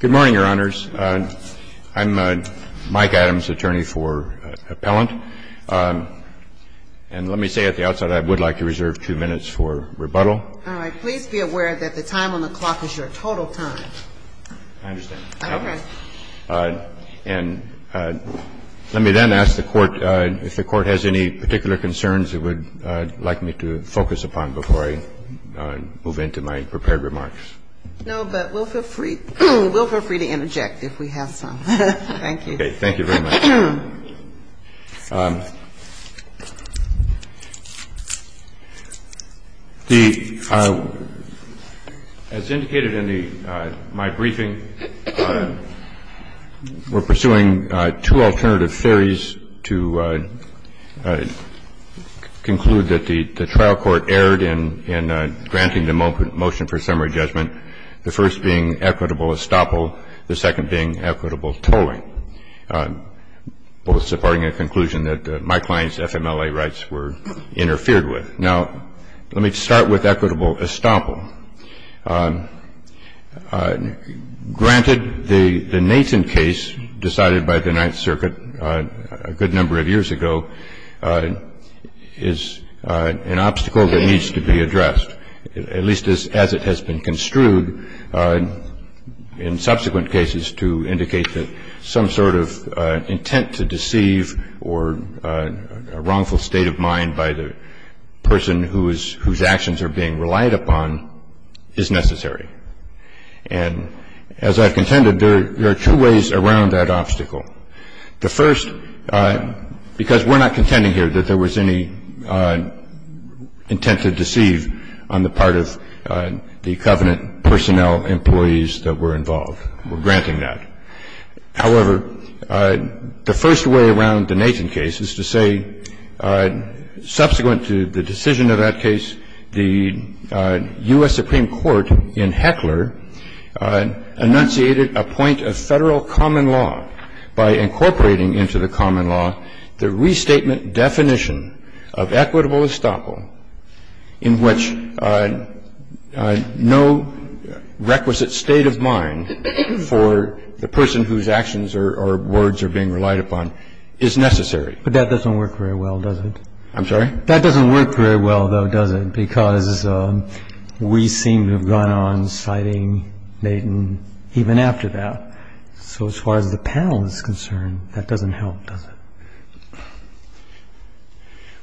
Good morning, Your Honors. I'm Mike Adams, attorney for Appellant. And let me say at the outset I would like to reserve two minutes for rebuttal. All right. Please be aware that the time on the clock is your total time. I understand. Okay. And let me then ask the Court if the Court has any particular concerns it would like me to focus upon before I move into my prepared remarks. No, but we'll feel free to interject if we have some. Thank you. Okay. Thank you very much. As indicated in my briefing, we're pursuing two alternative theories to conclude that the trial court erred in granting the motion for summary judgment. The first being equitable estoppel, the second being equitable tolling, both supporting a conclusion that my client's FMLA rights were interfered with. Now, let me start with equitable estoppel. Granted, the Nathan case decided by the Ninth Circuit a good number of years ago is an obstacle that needs to be addressed, at least as it has been construed in subsequent cases to indicate that some sort of intent to deceive or a wrongful state of mind by the person whose actions are being relied upon is necessary. And as I've contended, there are two ways around that obstacle. The first, because we're not contending here that there was any intent to deceive on the part of the covenant personnel employees that were involved, we're granting that. However, the first way around the Nathan case is to say, subsequent to the decision of that case, the U.S. Supreme Court in Heckler enunciated a point of Federal common law by incorporating into the common law the restatement definition of equitable estoppel in which no requisite state of mind for the person whose actions or words are being relied upon is necessary. But that doesn't work very well, does it? I'm sorry? That doesn't work very well, though, does it? Because we seem to have gone on citing Nathan even after that. So as far as the panel is concerned, that doesn't help, does it?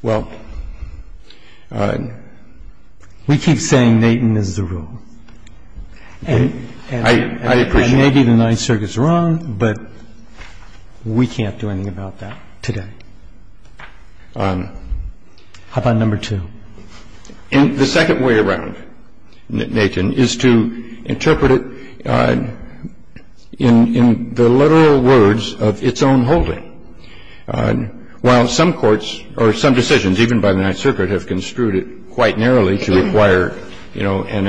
Well, we keep saying Nathan is the rule. I appreciate that. And maybe the Ninth Circuit's wrong, but we can't do anything about that today. How about number two? The second way around Nathan is to interpret it in the literal words of its own holding. While some courts or some decisions, even by the Ninth Circuit, have construed it quite narrowly to require, you know, an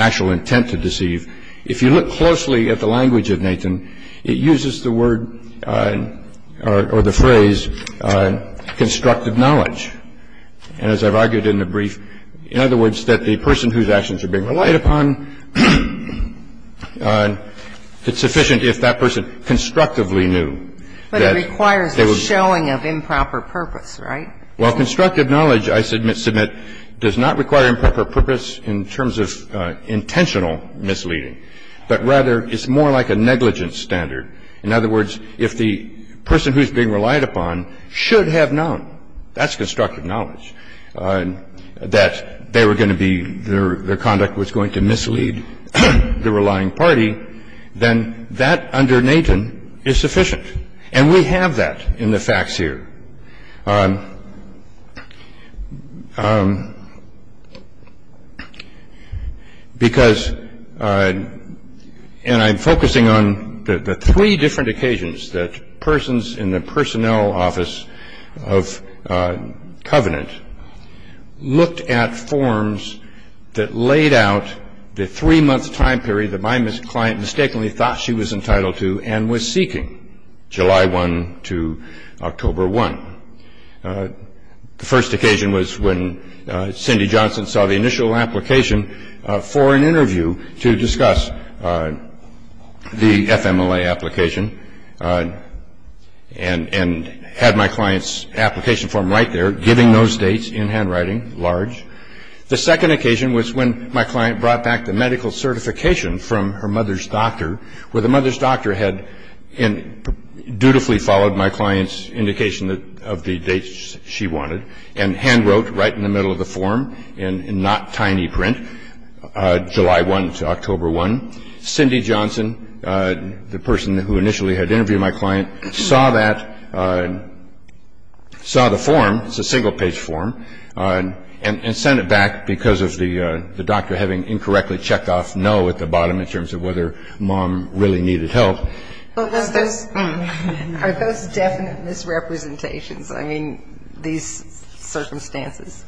actual intent to deceive, if you look closely at the language of Nathan, it uses the word or the phrase constructive knowledge. And as I've argued in the brief, in other words, that the person whose actions are being relied upon, it's sufficient if that person constructively knew that they were going to be deceived. But it requires a showing of improper purpose, right? Well, constructive knowledge, I submit, does not require improper purpose in terms of intentional misleading, but rather it's more like a negligence standard. In other words, if the person who's being relied upon should have known, that's constructive knowledge, that they were going to be their conduct was going to mislead the relying party, then that under Nathan is sufficient. And we have that in the facts here. Because, and I'm focusing on the three different occasions that persons in the personnel office of Covenant looked at forms that laid out the three-month time period that my client mistakenly thought she was entitled to and was seeking, July 1 to October 1. The first occasion was when Cindy Johnson saw the initial application for an interview to discuss the FMLA application and had my client's application form right there, giving those dates in handwriting, large. The second occasion was when my client brought back the medical certification from her mother's doctor, where the mother's doctor had dutifully followed my client's indication of the dates she wanted and hand wrote right in the middle of the form, in not tiny print, July 1 to October 1. Cindy Johnson, the person who initially had interviewed my client, saw that, saw the form, it's a single-page form, and sent it back because of the doctor having incorrectly checked off no at the bottom in terms of whether mom really needed help. But was this, are those definite misrepresentations? I mean, these circumstances.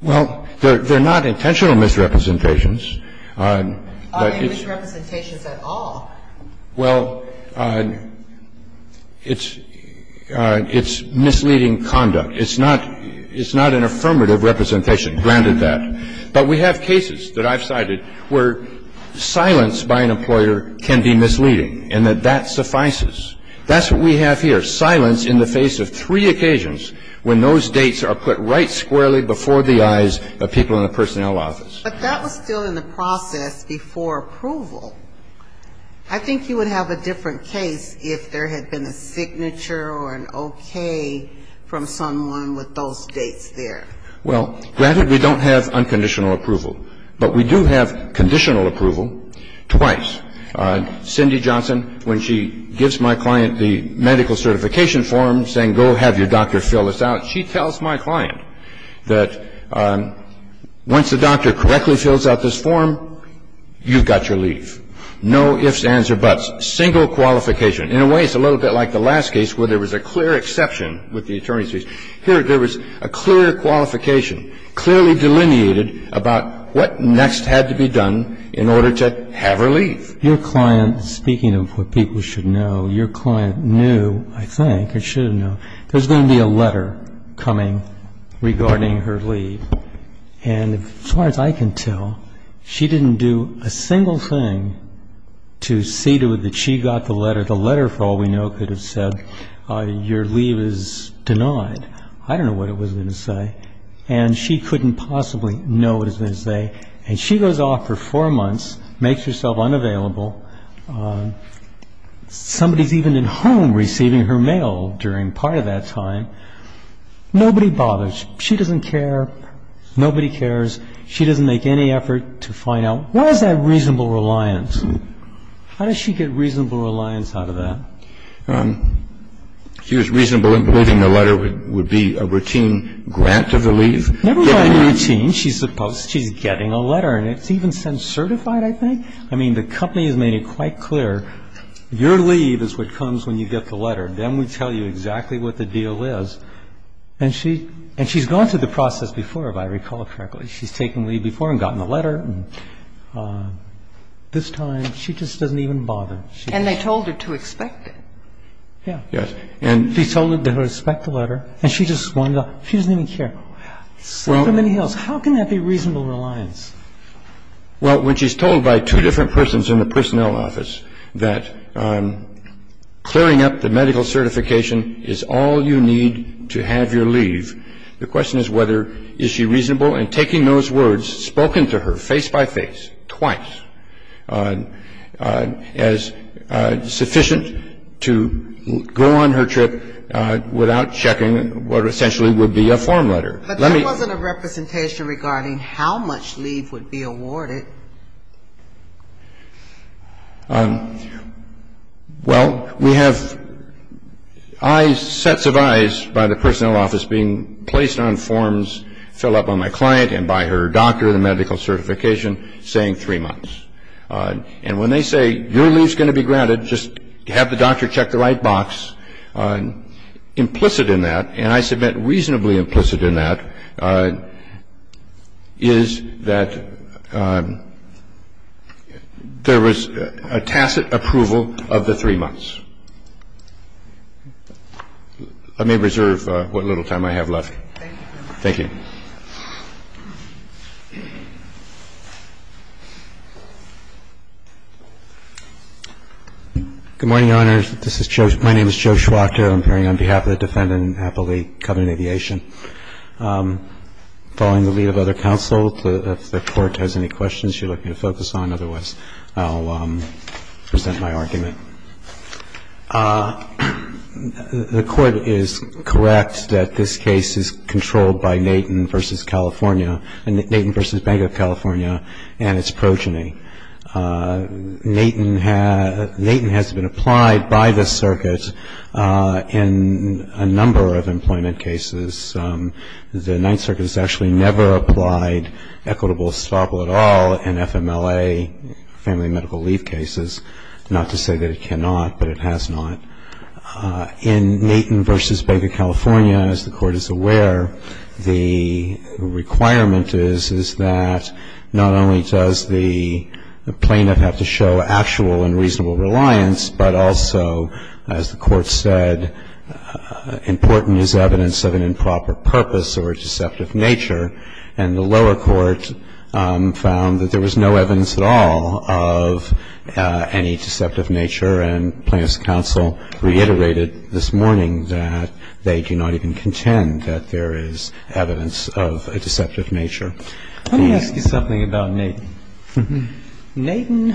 Well, they're not intentional misrepresentations. Are they misrepresentations at all? Well, it's misleading conduct. It's not an affirmative representation, granted that. But we have cases that I've cited where silence by an employer can be misleading and that that suffices. That's what we have here, silence in the face of three occasions when those dates are put right squarely before the eyes of people in the personnel office. But that was still in the process before approval. I think you would have a different case if there had been a signature or an okay from someone with those dates there. Well, granted, we don't have unconditional approval. But we do have conditional approval twice. Cindy Johnson, when she gives my client the medical certification form saying, go have your doctor fill this out, she tells my client that once the doctor correctly fills out this form, you've got your leave. No ifs, ands, or buts. Single qualification. In a way, it's a little bit like the last case where there was a clear exception with the attorney's fees. Here, there was a clear qualification, clearly delineated about what next had to be done in order to have her leave. Your client, speaking of what people should know, your client knew, I think, or should have known, there's going to be a letter coming regarding her leave. And as far as I can tell, she didn't do a single thing to see to it that she got the letter. The letter, for all we know, could have said, your leave is denied. I don't know what it was going to say. And she couldn't possibly know what it was going to say. And she goes off for four months, makes herself unavailable. Somebody's even at home receiving her mail during part of that time. Nobody bothers. She doesn't care. Nobody cares. She doesn't make any effort to find out. Why is that reasonable reliance? How does she get reasonable reliance out of that? She was reasonable in believing the letter would be a routine grant of the leave. Never by routine. She's supposed to be getting a letter. And it's even sent certified, I think. I mean, the company has made it quite clear, your leave is what comes when you get the letter. Then we tell you exactly what the deal is. And she's gone through the process before, if I recall correctly. She's taken leave before and gotten the letter. And this time, she just doesn't even bother. And they told her to expect it. Yeah. Yes. And she told her to expect the letter. And she just wandered off. She doesn't even care. So many hills. How can that be reasonable reliance? Well, when she's told by two different persons in the personnel office that clearing up the medical certification is all you need to have your leave, the question is whether is she reasonable in taking those words spoken to her face-by-face, twice, as sufficient to go on her trip without checking what essentially would be a form letter. But that wasn't a representation regarding how much leave would be awarded. Well, we have sets of eyes by the personnel office being placed on forms filled up on my client and by her doctor, the medical certification, saying three months. And when they say, your leave is going to be granted, just have the doctor check the right box, And the reason I think that's reasonable is because there's a reason for the three months. Implicit in that, and I submit reasonably implicit in that, is that there was a tacit approval of the three months. I may reserve what little time I have left. Thank you. Good morning, Your Honors. This is Joe. My name is Joe Schwachter. I'm appearing on behalf of the defendant in Appellee Covenant Aviation. Following the lead of other counsel, if the Court has any questions you're looking to focus on, otherwise I'll present my argument. The Court is correct that this case is controlled by nature. And it's progeny. Natan has been applied by the circuit in a number of employment cases. The Ninth Circuit has actually never applied equitable estoppel at all in FMLA, family medical leave cases. Not to say that it cannot, but it has not. In Natan v. Bank of California, as the Court is aware, the requirement is that not only does the plaintiff have to show actual and reasonable reliance, but also, as the Court said, important is evidence of an improper purpose or a deceptive nature. And the lower court found that there was no evidence at all of any deceptive nature. And plaintiff's counsel reiterated this morning that they do not even contend that there is evidence of a deceptive nature. Let me ask you something about Natan. Natan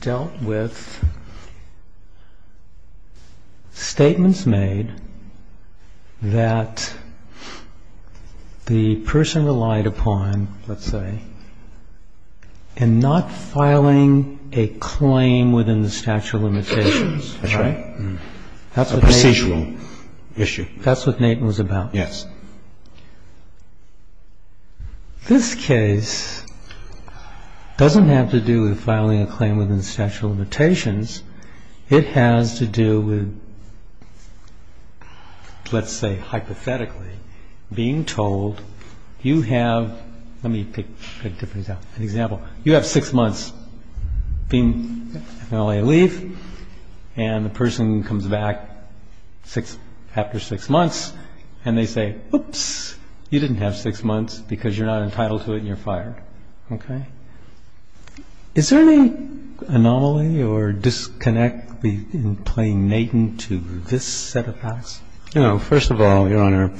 dealt with statements made that the person relied upon, let's say, in not filing a claim within the statute of limitations, right? That's right. A procedural issue. That's what Natan was about. Yes. This case doesn't have to do with filing a claim within the statute of limitations. It has to do with, let's say, hypothetically, being told you have, let me pick a different example. You have six months being on a leave, and the person comes back after six months, and they say, oops, you didn't have six months because you're not entitled to it and you're fired. Okay? Is there any anomaly or disconnect in plain Natan to this set of facts? No. First of all, Your Honor,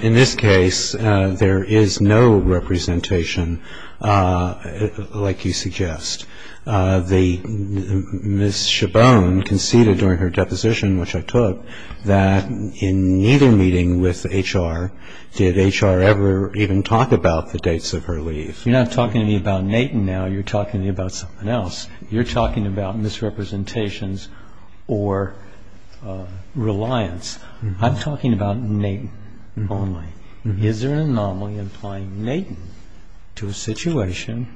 in this case, there is no representation. Like you suggest, Ms. Chabon conceded during her deposition, which I took, that in neither meeting with HR did HR ever even talk about the dates of her leave. You're not talking to me about Natan now. You're talking to me about something else. You're talking about misrepresentations or reliance. I'm talking about Natan only. Is there an anomaly implying Natan to a situation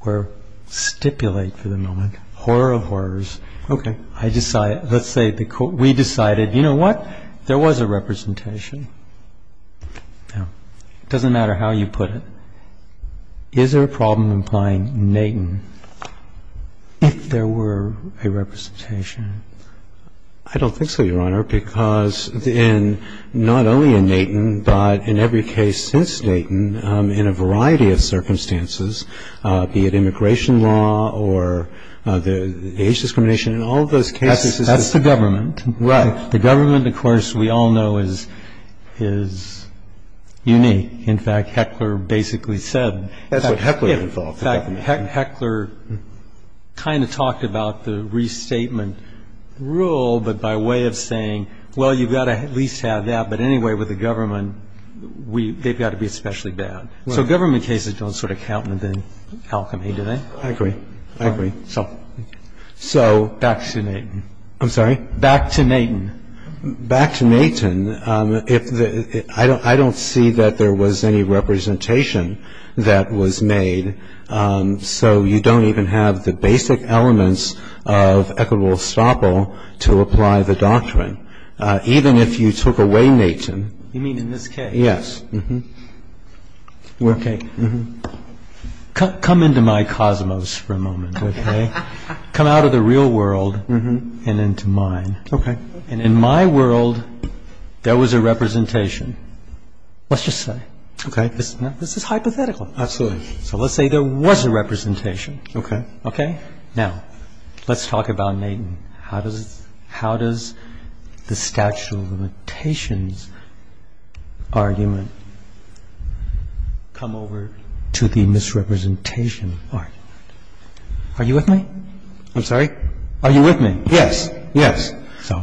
where, stipulate for the moment, horror of horrors. Okay. Let's say we decided, you know what, there was a representation. Now, it doesn't matter how you put it. Is there a problem implying Natan if there were a representation? I don't think so, Your Honor, because in not only in Natan, but in every case since Natan, in a variety of circumstances, be it immigration law or the age discrimination, in all those cases. That's the government. Right. The government, of course, we all know is unique. In fact, Heckler basically said. That's what Heckler thought. Heckler kind of talked about the restatement rule, but by way of saying, well, you've got to at least have that. But anyway, with the government, they've got to be especially bad. So government cases don't sort of count within alchemy, do they? I agree. I agree. So. Back to Natan. I'm sorry? Back to Natan. Back to Natan. I don't see that there was any representation that was made. So you don't even have the basic elements of equitable estoppel to apply the doctrine. Even if you took away Natan. You mean in this case? Yes. Okay. Come into my cosmos for a moment, okay? Come out of the real world and into mine. Okay. And in my world, there was a representation. Let's just say. Okay. This is hypothetical. Absolutely. So let's say there was a representation. Okay. Okay? Now, let's talk about Natan. How does the statute of limitations argument come over to the misrepresentation argument? Are you with me? I'm sorry? Are you with me? Yes. Yes. So.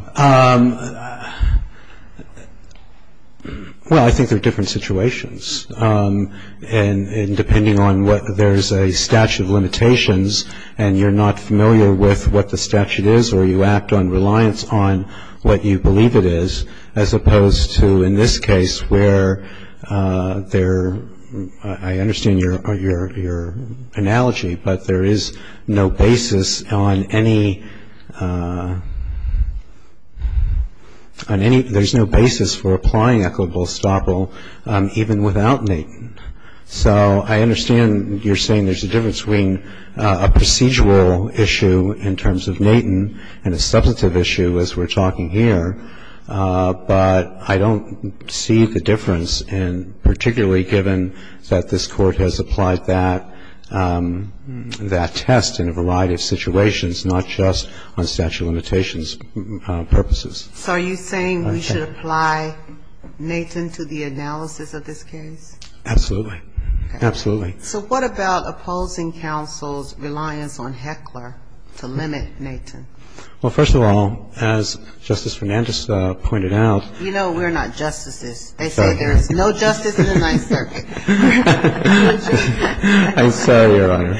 Well, I think they're different situations. And depending on what there's a statute of limitations, and you're not familiar with what the statute is, or you act on reliance on what you believe it is, as opposed to in this case where there, I understand your analogy, but there is no basis on any, there's no basis for applying equitable estoppel even without Natan. So I understand you're saying there's a difference between a procedural issue in terms of Natan and a substantive issue as we're talking here, but I don't see the difference in particularly given that this Court has applied that test in a variety of situations, not just on statute of limitations purposes. So are you saying we should apply Natan to the analysis of this case? Absolutely. Absolutely. So what about opposing counsel's reliance on Heckler to limit Natan? Well, first of all, as Justice Fernandez pointed out. You know we're not justices. They say there is no justice in the Ninth Circuit. I'm sorry, Your Honor.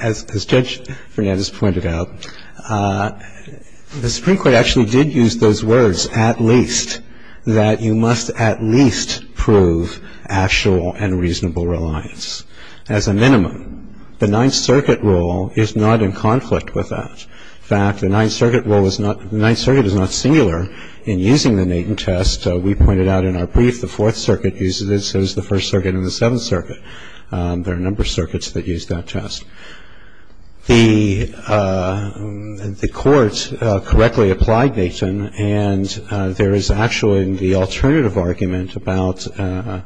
As Judge Fernandez pointed out, the Supreme Court actually did use those words, that you must at least prove actual and reasonable reliance as a minimum. The Ninth Circuit rule is not in conflict with that. In fact, the Ninth Circuit rule is not, the Ninth Circuit is not singular in using the Natan test. We pointed out in our brief the Fourth Circuit uses it as does the First Circuit and the Seventh Circuit. There are a number of circuits that use that test. The court correctly applied Natan, and there is actually the alternative argument about that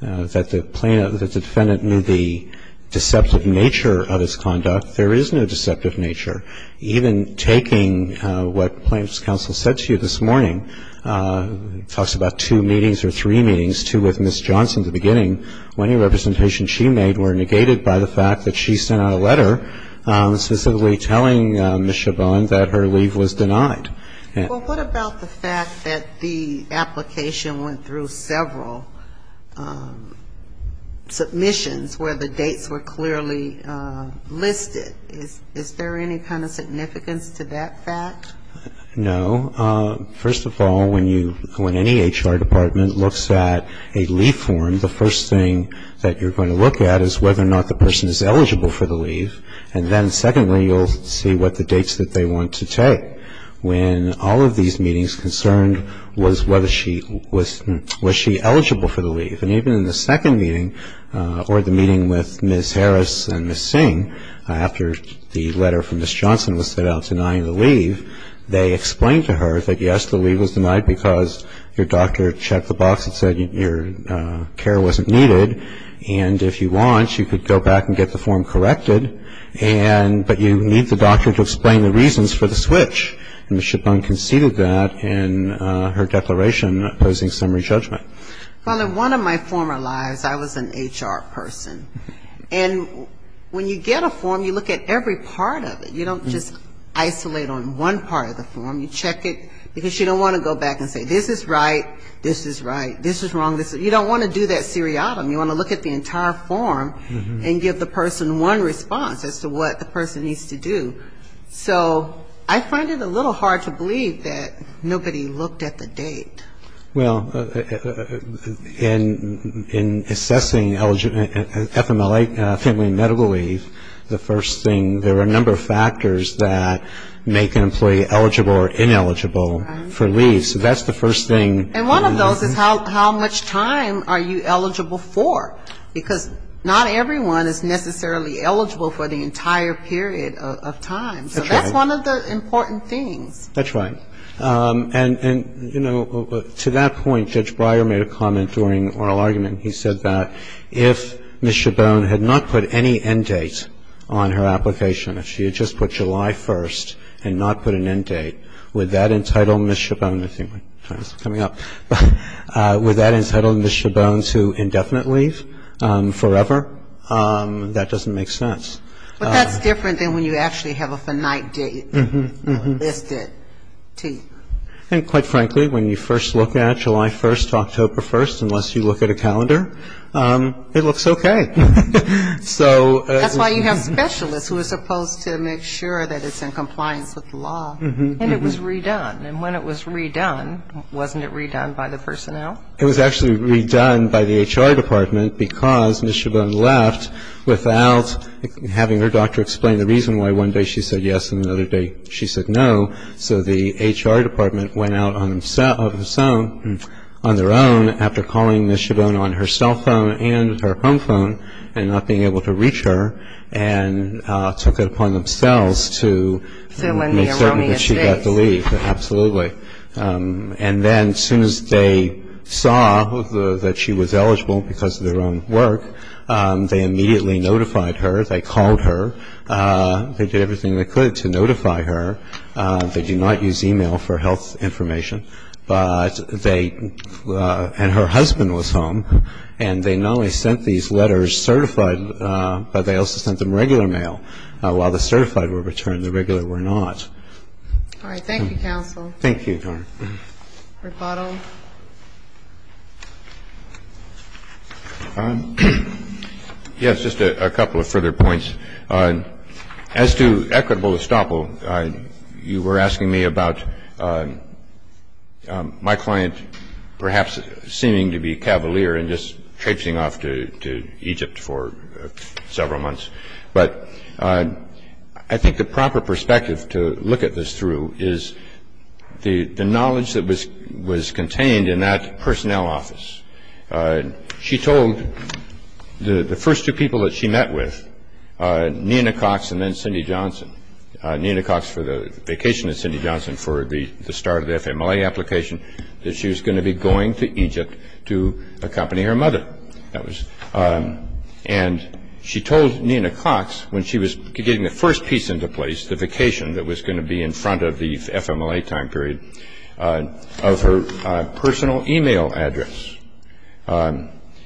the defendant knew the deceptive nature of his conduct. There is no deceptive nature. Even taking what plaintiff's counsel said to you this morning, talks about two meetings or three meetings, two with Ms. Johnson at the beginning, she made were negated by the fact that she sent out a letter specifically telling Ms. Chabon that her leave was denied. Well, what about the fact that the application went through several submissions where the dates were clearly listed? Is there any kind of significance to that fact? No. First of all, when you, when any HR department looks at a leave form, the first thing that you're going to look at is whether or not the person is eligible for the leave. And then secondly, you'll see what the dates that they want to take. When all of these meetings concerned was whether she, was she eligible for the leave. And even in the second meeting, or the meeting with Ms. Harris and Ms. Singh, after the letter from Ms. Johnson was sent out denying the leave, they explained to her that yes, the leave was denied because your doctor checked the box and said your care wasn't needed. And if you want, you could go back and get the form corrected, but you need the doctor to explain the reasons for the switch. And Ms. Chabon conceded that in her declaration opposing summary judgment. Well, in one of my former lives, I was an HR person. And when you get a form, you look at every part of it. You don't just isolate on one part of the form. You check it because you don't want to go back and say this is right, this is right, this is wrong. You don't want to do that seriatim. You want to look at the entire form and give the person one response as to what the person needs to do. So I find it a little hard to believe that nobody looked at the date. Well, in assessing FMLA, family and medical leave, the first thing, there are a number of factors that make an employee eligible or ineligible for leave. So that's the first thing. And one of those is how much time are you eligible for? Because not everyone is necessarily eligible for the entire period of time. So that's one of the important things. That's right. And, you know, to that point, Judge Breyer made a comment during oral argument. He said that if Ms. Schabone had not put any end date on her application, if she had just put July 1st and not put an end date, would that entitle Ms. Schabone to indefinite leave forever? That doesn't make sense. But that's different than when you actually have a finite date listed. And quite frankly, when you first look at July 1st to October 1st, unless you look at a calendar, it looks okay. So that's why you have specialists who are supposed to make sure that it's in compliance with the law. And it was redone. And when it was redone, wasn't it redone by the personnel? It was actually redone by the HR department because Ms. Schabone left without having her doctor explain the reason why one day she said yes and another day she said no. So the HR department went out on their own after calling Ms. Schabone on her cell phone and her home phone and not being able to reach her and took it upon themselves to make certain that she got to leave. So in the erroneous days. Absolutely. And then as soon as they saw that she was eligible because of their own work, they immediately notified her. They called her. They did everything they could to notify her. They do not use e-mail for health information. But they – and her husband was home. And they not only sent these letters certified, but they also sent them regular mail. While the certified were returned, the regular were not. All right. Thank you, counsel. Thank you, Your Honor. Rebuttal. Rebuttal. Yes, just a couple of further points. As to equitable estoppel, you were asking me about my client perhaps seeming to be cavalier and just traipsing off to Egypt for several months. But I think the proper perspective to look at this through is the knowledge that was contained in that personnel office. She told the first two people that she met with, Nina Cox and then Cindy Johnson, Nina Cox for the vacation and Cindy Johnson for the start of the FMLA application, that she was going to be going to Egypt to accompany her mother. And she told Nina Cox when she was getting the first piece into place, the vacation that was going to be in front of the FMLA time period, of her personal e-mail address.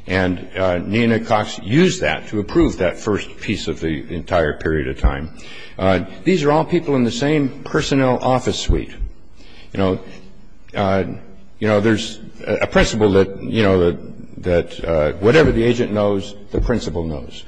And Nina Cox used that to approve that first piece of the entire period of time. These are all people in the same personnel office suite. You know, there's a principle that whatever the agent knows, the principle knows.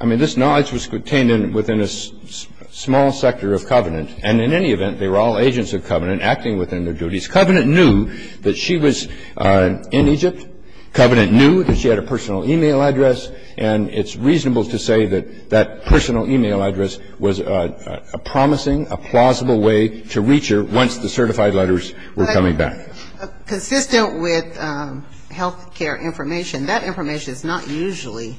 I mean, this knowledge was contained within a small sector of Covenant. And in any event, they were all agents of Covenant acting within their duties. Covenant knew that she was in Egypt. Covenant knew that she had a personal e-mail address. And it's reasonable to say that that personal e-mail address was a promising, a plausible way to reach her once the certified letters were coming back. But consistent with health care information, that information is not usually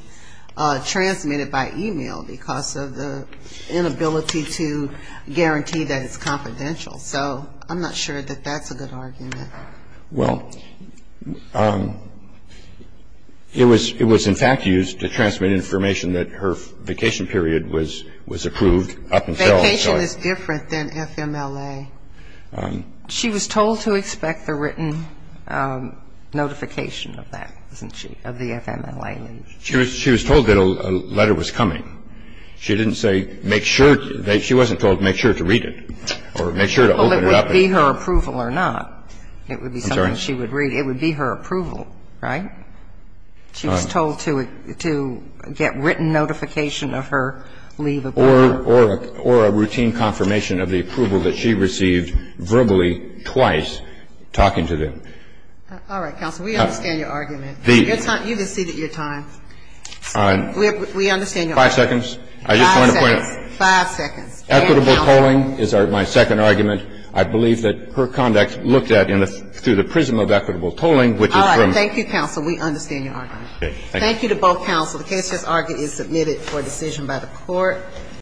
transmitted by e-mail because of the inability to guarantee that it's confidential. So I'm not sure that that's a good argument. Well, it was in fact used to transmit information that her vacation period was approved up until the time of the letter. And I'm not sure that the letter was approved until then. Vacation is different than FMLA. It would be something she would read. I'm sorry. It would be her approval, right? She was told to get written notification of her leave of work. Or a routine confirmation of the approval that she received verbally twice talking to them. All right, counsel. We understand your argument. You can cede your time. All right. We understand your argument. Five seconds. I just want to point out. Five seconds. Equitable tolling is my second argument. I believe that her conduct looked at through the prism of equitable tolling, which is from All right. Thank you, counsel. We understand your argument. Okay. Thank you. Thank you to both counsel. The case is submitted for decision by the Court.